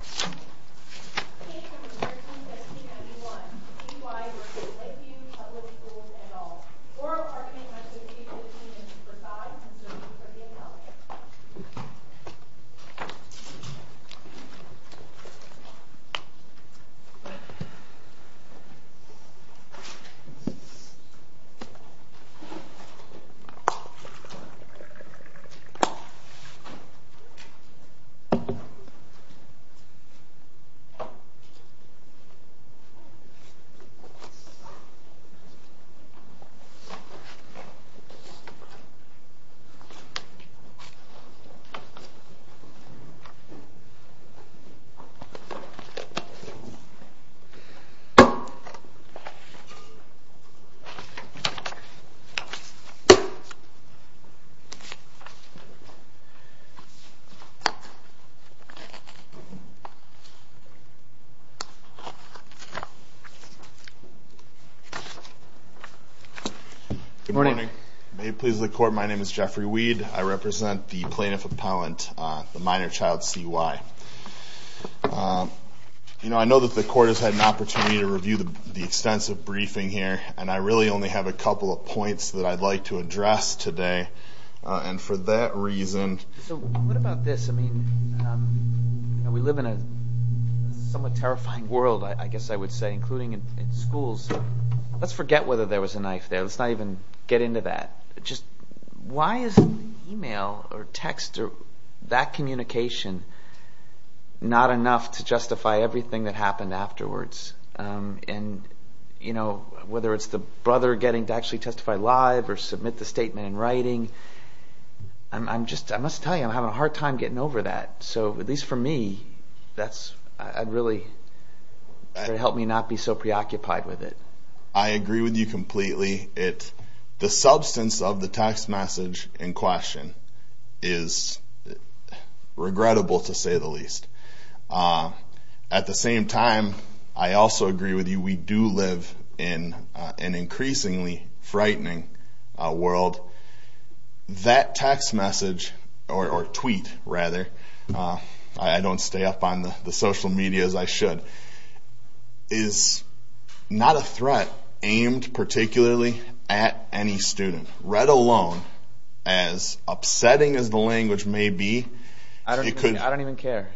Page number 13, section 91. CY v. Lakeview Public Schools et al. Oral argument must be reviewed with the opinion of Supervisors for the appellate. Page number 13, section 91. CY v. Lakeview Public Schools et al. Oral argument must be reviewed with the opinion of Supervisors for the appellate. Good morning. May it please the Court, my name is Jeffrey Weed. I represent the Plaintiff Appellant, the minor child CY. I know that the Court has had an opportunity to review the extensive briefing here, and I really only have a couple of points that I'd like to address today. And for that reason... So what about this? I mean, we live in a somewhat terrifying world, I guess I would say, including in schools. Let's forget whether there was a knife there. Let's not even get into that. Just why is email or text or that communication not enough to justify everything that happened afterwards? And, you know, whether it's the brother getting to actually testify live or submit the statement in writing, I must tell you, I'm having a hard time getting over that. So at least for me, that's really helped me not be so preoccupied with it. I agree with you completely. The substance of the text message in question is regrettable to say the least. At the same time, I also agree with you, we do live in an increasingly frightening world. That text message, or tweet rather, I don't stay up on the social media as I should, is not a threat aimed particularly at any student, let alone, as upsetting as the language may be... I don't even care.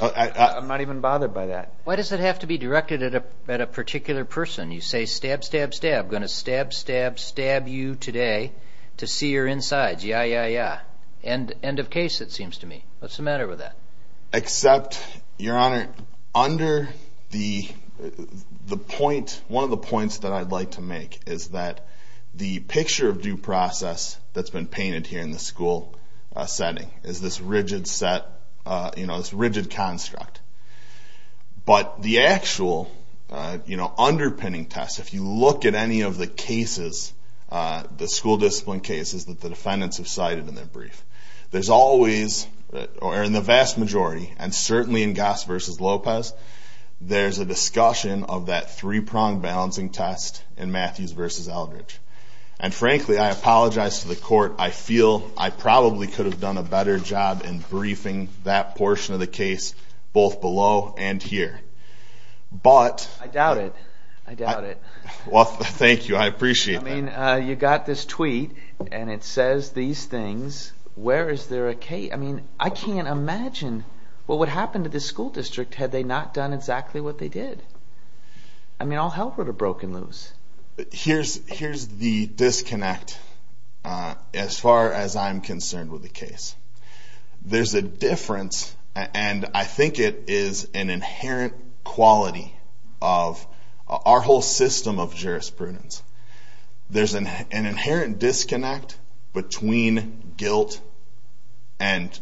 I'm not even bothered by that. Why does it have to be directed at a particular person? You say, stab, stab, stab, going to stab, stab, stab you today to see your insides. Yeah, yeah, yeah. End of case, it seems to me. What's the matter with that? Except, Your Honor, under the point, one of the points that I'd like to make is that the picture of due process that's been painted here in the school setting is this rigid set, this rigid construct. But the actual underpinning test, if you look at any of the cases, the school discipline cases that the defendants have cited in their brief, there's always, or in the vast majority, and certainly in Goss v. Lopez, there's a discussion of that three-pronged balancing test in Matthews v. Eldridge. And frankly, I apologize to the Court. I feel I probably could have done a better job in briefing that portion of the case, both below and here. But... I doubt it. I doubt it. Well, thank you. I appreciate that. I mean, you got this tweet, and it says these things. Where is there a case? I mean, I can't imagine. Well, what happened to this school district had they not done exactly what they did? I mean, all hell would have broken loose. Here's the disconnect as far as I'm concerned with the case. There's a difference, and I think it is an inherent quality of our whole system of jurisprudence. There's an inherent disconnect between guilt and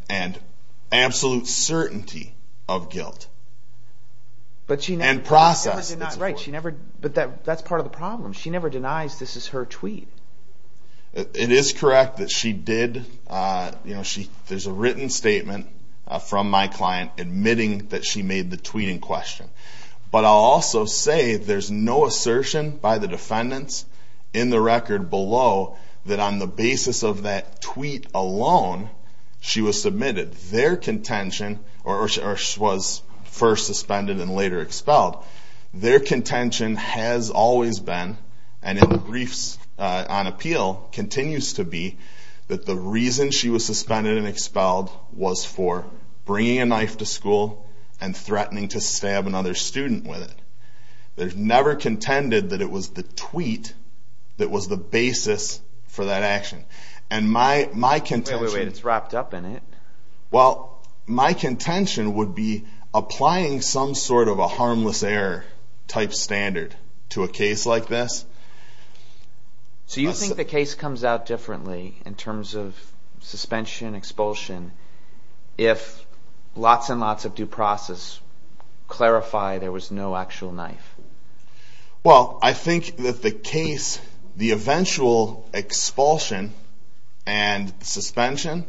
absolute certainty of guilt and process. But she never... That's right. But that's part of the problem. She never denies this is her tweet. It is correct that she did. There's a written statement from my client admitting that she made the tweeting question. But I'll also say there's no assertion by the defendants in the record below that on the basis of that tweet alone, she was submitted. Their contention, or she was first suspended and later expelled, their contention has always been, and in the briefs on appeal continues to be, that the reason she was suspended and expelled was for bringing a knife to school and threatening to stab another student with it. They've never contended that it was the tweet that was the basis for that action. Wait, wait, wait. It's wrapped up in it. Well, my contention would be applying some sort of a harmless error type standard to a case like this. So you think the case comes out differently in terms of suspension, expulsion, if lots and lots of due process clarify there was no actual knife? Well, I think that the case, the eventual expulsion and suspension,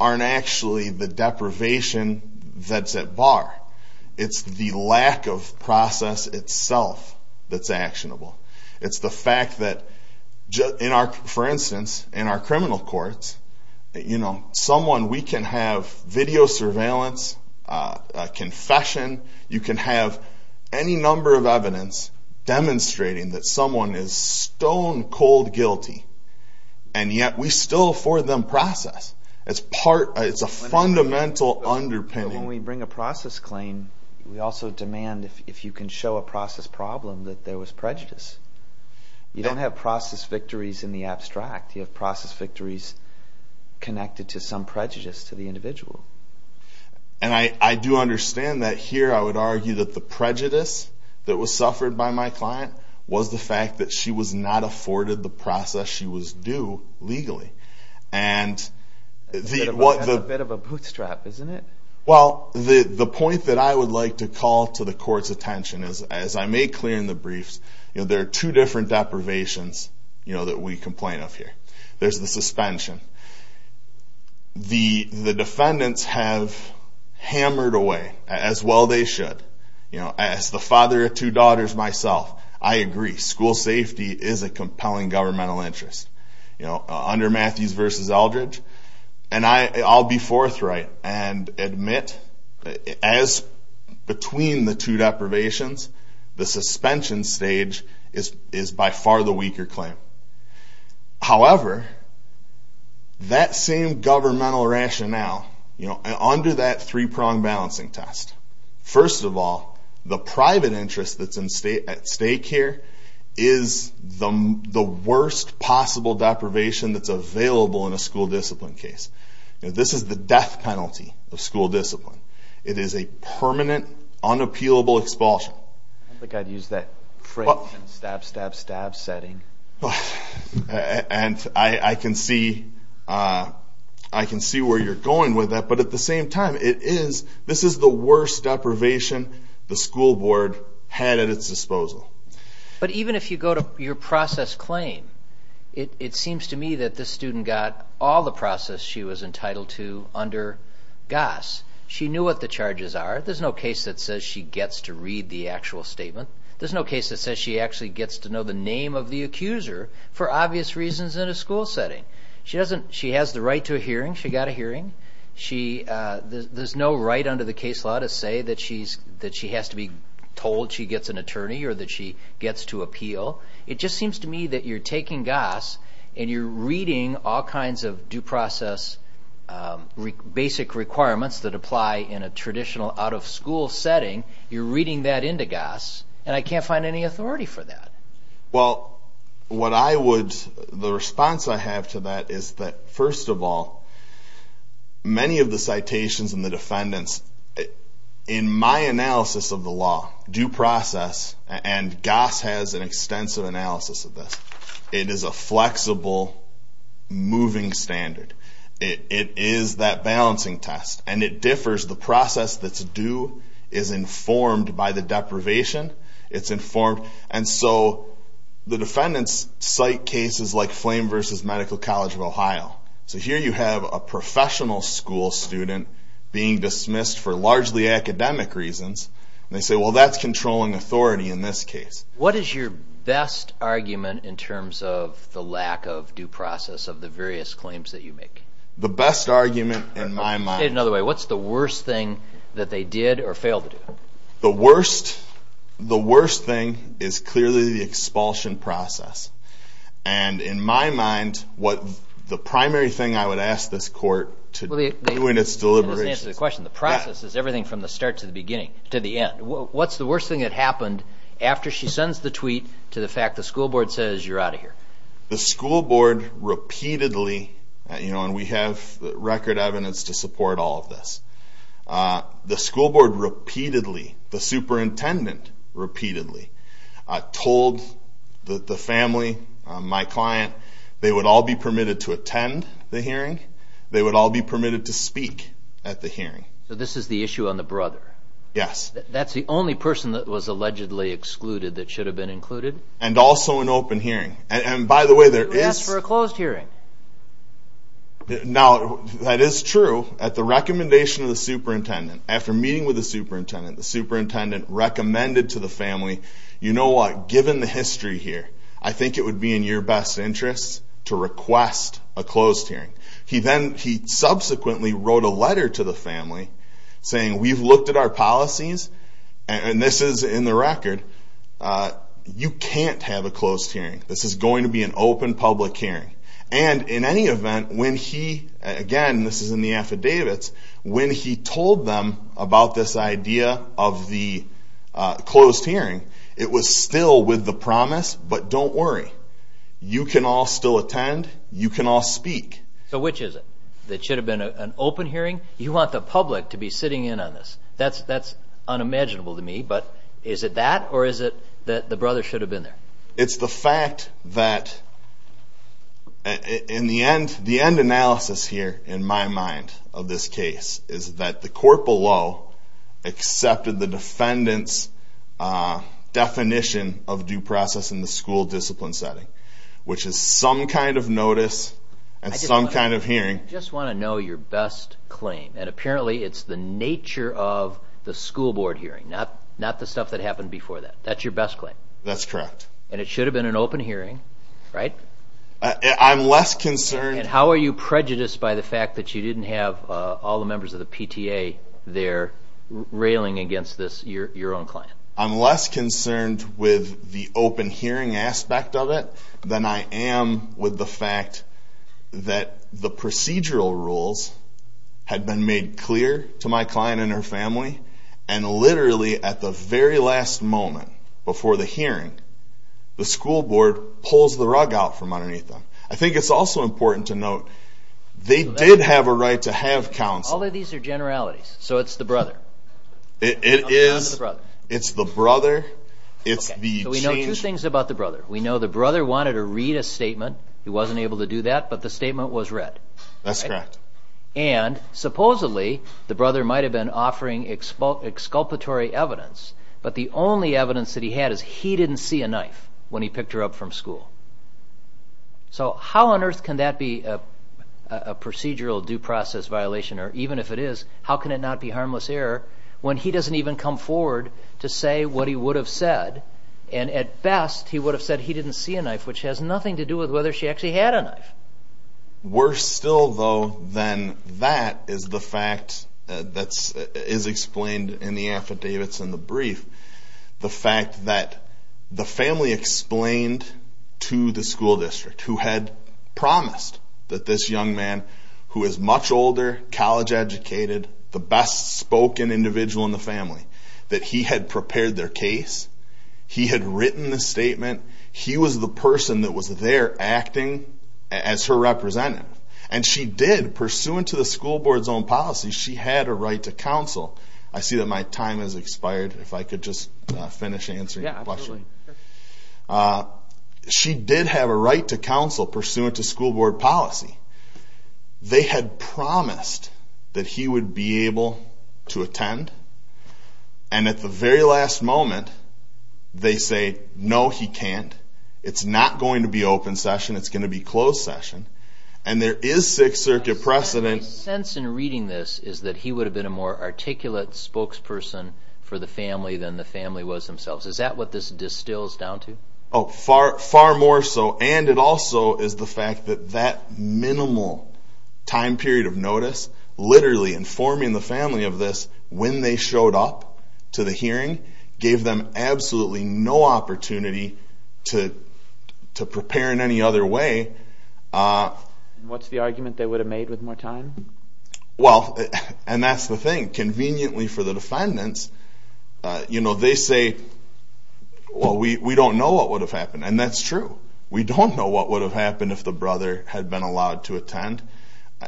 aren't actually the deprivation that's at bar. It's the lack of process itself that's actionable. It's the fact that, for instance, in our criminal courts, we can have video surveillance, confession, you can have any number of evidence demonstrating that someone is stone cold guilty, and yet we still afford them process. It's a fundamental underpinning. When we bring a process claim, we also demand, if you can show a process problem, that there was prejudice. You don't have process victories in the abstract. You have process victories connected to some prejudice to the individual. And I do understand that here. I would argue that the prejudice that was suffered by my client was the fact that she was not afforded the process she was due legally. That's a bit of a bootstrap, isn't it? Well, the point that I would like to call to the court's attention is, as I made clear in the briefs, there are two different deprivations that we complain of here. There's the suspension. The defendants have hammered away, as well they should. As the father of two daughters myself, I agree. School safety is a compelling governmental interest. Under Matthews v. Eldridge, and I'll be forthright and admit, as between the two deprivations, the suspension stage is by far the weaker claim. However, that same governmental rationale, under that three-pronged balancing test, first of all, the private interest that's at stake here is the worst possible deprivation that's available in a school discipline case. This is the death penalty of school discipline. It is a permanent, unappealable expulsion. I think I'd use that phrase, stab, stab, stab setting. And I can see where you're going with that, but at the same time, this is the worst deprivation the school board had at its disposal. But even if you go to your process claim, it seems to me that this student got all the process she was entitled to under GAS. She knew what the charges are. There's no case that says she gets to read the actual statement. There's no case that says she actually gets to know the name of the accuser for obvious reasons in a school setting. She has the right to a hearing. She got a hearing. There's no right under the case law to say that she has to be told she gets an attorney or that she gets to appeal. It just seems to me that you're taking GAS and you're reading all kinds of due process basic requirements that apply in a traditional out-of-school setting. You're reading that into GAS, and I can't find any authority for that. Well, the response I have to that is that, first of all, many of the citations and the defendants, in my analysis of the law, due process, and GAS has an extensive analysis of this, it is a flexible, moving standard. It is that balancing test, and it differs. The process that's due is informed by the deprivation. It's informed. And so the defendants cite cases like Flame v. Medical College of Ohio. So here you have a professional school student being dismissed for largely academic reasons, and they say, well, that's controlling authority in this case. What is your best argument in terms of the lack of due process of the various claims that you make? The best argument, in my mind... Say it another way. What's the worst thing that they did or failed to do? The worst thing is clearly the expulsion process. And in my mind, the primary thing I would ask this court to do in its deliberations... What's the worst thing that happened after she sends the tweet to the fact the school board says you're out of here? The school board repeatedly, and we have record evidence to support all of this, the school board repeatedly, the superintendent repeatedly, told the family, my client, they would all be permitted to attend the hearing. They would all be permitted to speak at the hearing. So this is the issue on the brother? Yes. That's the only person that was allegedly excluded that should have been included? And also an open hearing. And by the way, there is... Who asked for a closed hearing? Now, that is true. At the recommendation of the superintendent, after meeting with the superintendent, the superintendent recommended to the family, you know what, given the history here, I think it would be in your best interest to request a closed hearing. He subsequently wrote a letter to the family saying, we've looked at our policies, and this is in the record, you can't have a closed hearing. This is going to be an open public hearing. And in any event, when he, again, this is in the affidavits, when he told them about this idea of the closed hearing, it was still with the promise, but don't worry. You can all still attend. You can all speak. So which is it? That it should have been an open hearing? You want the public to be sitting in on this? That's unimaginable to me. But is it that, or is it that the brother should have been there? It's the fact that, in the end, the end analysis here, in my mind, of this case, is that the court below accepted the defendant's definition of due process in the school discipline setting, which is some kind of notice and some kind of hearing. I just want to know your best claim. And apparently it's the nature of the school board hearing, not the stuff that happened before that. That's your best claim? That's correct. And it should have been an open hearing, right? I'm less concerned. And how are you prejudiced by the fact that you didn't have all the members of the PTA there railing against this, your own client? I'm less concerned with the open hearing aspect of it than I am with the fact that the procedural rules had been made clear to my client and her family, and literally at the very last moment before the hearing, the school board pulls the rug out from underneath them. I think it's also important to note they did have a right to have counsel. All of these are generalities, so it's the brother. It is. It's the brother. So we know two things about the brother. We know the brother wanted to read a statement. He wasn't able to do that, but the statement was read. That's correct. And supposedly the brother might have been offering exculpatory evidence, but the only evidence that he had is he didn't see a knife when he picked her up from school. So how on earth can that be a procedural due process violation? Or even if it is, how can it not be harmless error when he doesn't even come forward to say what he would have said, and at best he would have said he didn't see a knife, which has nothing to do with whether she actually had a knife? Worse still, though, than that is the fact that is explained in the affidavits in the brief, the fact that the family explained to the school district who had promised that this young man, who is much older, college-educated, the best-spoken individual in the family, that he had prepared their case, he had written the statement, he was the person that was there acting as her representative. And she did, pursuant to the school board's own policy, she had a right to counsel. I see that my time has expired. If I could just finish answering your question. Yeah, absolutely. She did have a right to counsel, pursuant to school board policy. They had promised that he would be able to attend, and at the very last moment they say, no, he can't, it's not going to be open session, it's going to be closed session. And there is Sixth Circuit precedent. My sense in reading this is that he would have been a more articulate spokesperson for the family than the family was themselves. Is that what this distills down to? Oh, far more so. And it also is the fact that that minimal time period of notice, literally informing the family of this when they showed up to the hearing, gave them absolutely no opportunity to prepare in any other way. What's the argument they would have made with more time? Well, and that's the thing. Conveniently for the defendants, they say, well, we don't know what would have happened, and that's true. We don't know what would have happened if the brother had been allowed to attend,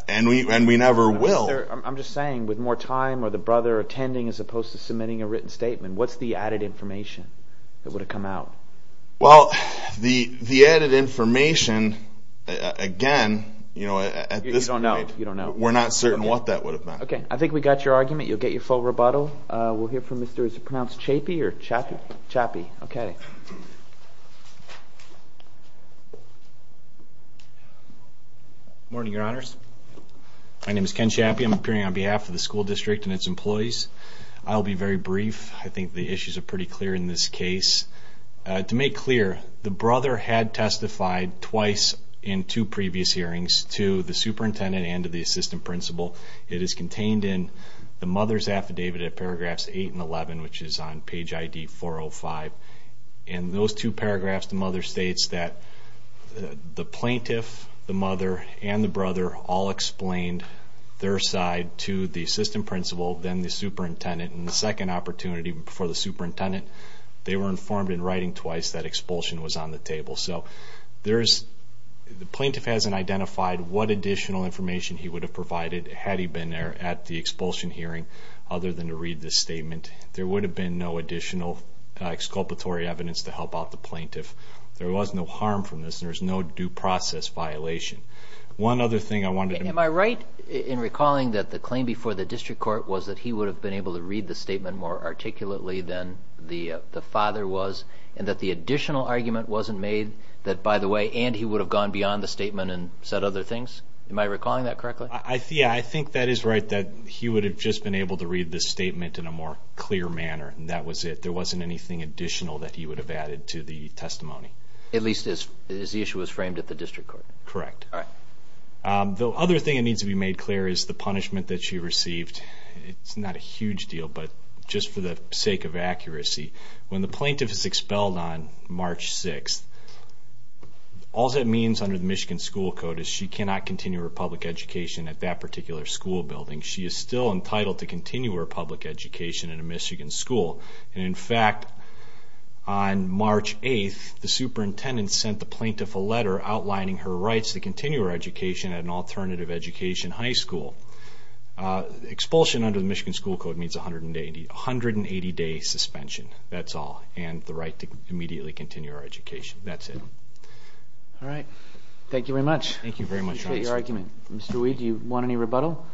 and we never will. I'm just saying, with more time or the brother attending as opposed to submitting a written statement, what's the added information that would have come out? Well, the added information, again, at this point, we're not certain what that would have been. Okay, I think we got your argument. You'll get your full rebuttal. We'll hear from Mr. is it pronounced Chappie or Chappie? Chappie. Okay. Good morning, Your Honors. My name is Ken Chappie. I'm appearing on behalf of the school district and its employees. I'll be very brief. I think the issues are pretty clear in this case. To make clear, the brother had testified twice in two previous hearings to the superintendent and to the assistant principal. It is contained in the mother's affidavit at paragraphs 8 and 11, which is on page ID 405. In those two paragraphs, the mother states that the plaintiff, the mother, and the brother all explained their side to the assistant principal, then the superintendent, and the second opportunity before the superintendent, they were informed in writing twice that expulsion was on the table. The plaintiff hasn't identified what additional information he would have provided had he been there at the expulsion hearing other than to read the statement. There would have been no additional exculpatory evidence to help out the plaintiff. There was no harm from this. There's no due process violation. One other thing I wanted to make. Am I right in recalling that the claim before the district court was that he would have been able to read the statement more and he would have gone beyond the statement and said other things? Am I recalling that correctly? Yeah, I think that is right, that he would have just been able to read the statement in a more clear manner, and that was it. There wasn't anything additional that he would have added to the testimony. At least as the issue was framed at the district court. Correct. All right. The other thing that needs to be made clear is the punishment that she received. It's not a huge deal, but just for the sake of accuracy, when the plaintiff is expelled on March 6th, all that means under the Michigan school code is she cannot continue her public education at that particular school building. She is still entitled to continue her public education at a Michigan school. In fact, on March 8th, the superintendent sent the plaintiff a letter outlining her rights to continue her education at an alternative education high school. Expulsion under the Michigan school code means 180-day suspension, that's all, and the right to immediately continue her education. That's it. All right. Thank you very much. Thank you very much. Appreciate your argument. Mr. Weed, do you want any rebuttal?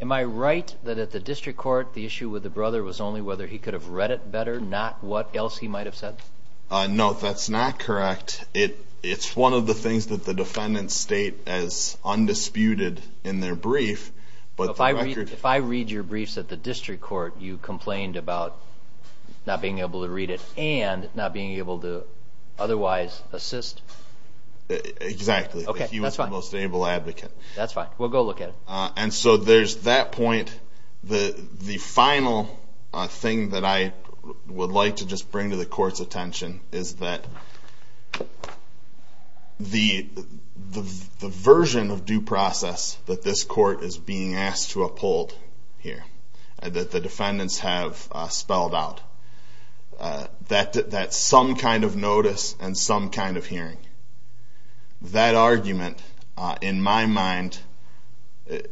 Am I right that at the district court the issue with the brother was only whether he could have read it better, not what else he might have said? No, that's not correct. It's one of the things that the defendants state as undisputed in their brief. If I read your briefs at the district court, you complained about not being able to read it and not being able to otherwise assist? Exactly. Okay, that's fine. He was the most able advocate. That's fine. We'll go look at it. And so there's that point. The final thing that I would like to just bring to the court's attention is that the version of due process that this court is being asked to uphold here, that the defendants have spelled out, that some kind of notice and some kind of hearing, that argument, in my mind,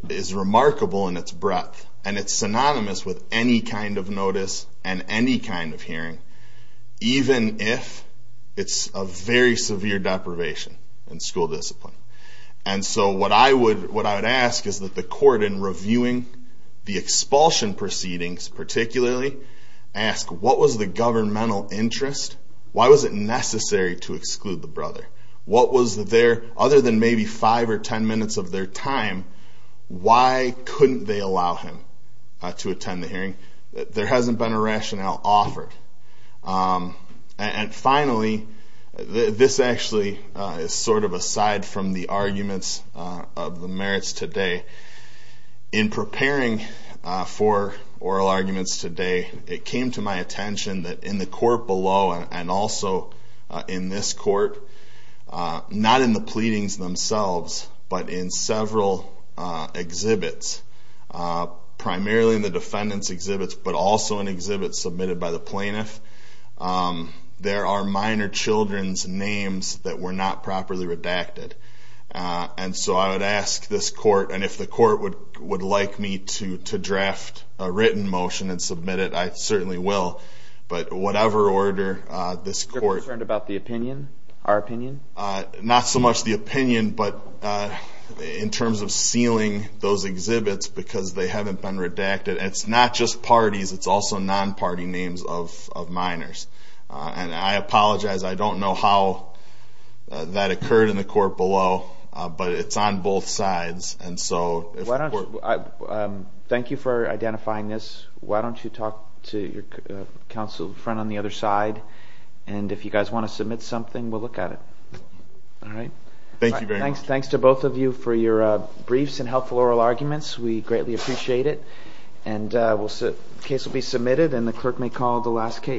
is remarkable in its breadth, and it's synonymous with any kind of notice and any kind of hearing, even if it's a very severe deprivation in school discipline. And so what I would ask is that the court, in reviewing the expulsion proceedings particularly, ask what was the governmental interest? Why was it necessary to exclude the brother? What was there, other than maybe five or ten minutes of their time, why couldn't they allow him to attend the hearing? There hasn't been a rationale offered. And finally, this actually is sort of aside from the arguments of the merits today. In preparing for oral arguments today, it came to my attention that in the court below and also in this court, not in the pleadings themselves but in several exhibits, primarily in the defendants' exhibits but also in exhibits submitted by the plaintiff, there are minor children's names that were not properly redacted. And so I would ask this court, and if the court would like me to draft a written motion and submit it, I certainly will, but whatever order this court... Are you concerned about the opinion, our opinion? Not so much the opinion but in terms of sealing those exhibits because they haven't been redacted. It's not just parties, it's also non-party names of minors. And I apologize. I don't know how that occurred in the court below, but it's on both sides. Thank you for identifying this. Why don't you talk to your counsel, the friend on the other side, and if you guys want to submit something, we'll look at it. All right? Thank you very much. Thanks to both of you for your briefs and helpful oral arguments. We greatly appreciate it. And the case will be submitted and the clerk may call the last case.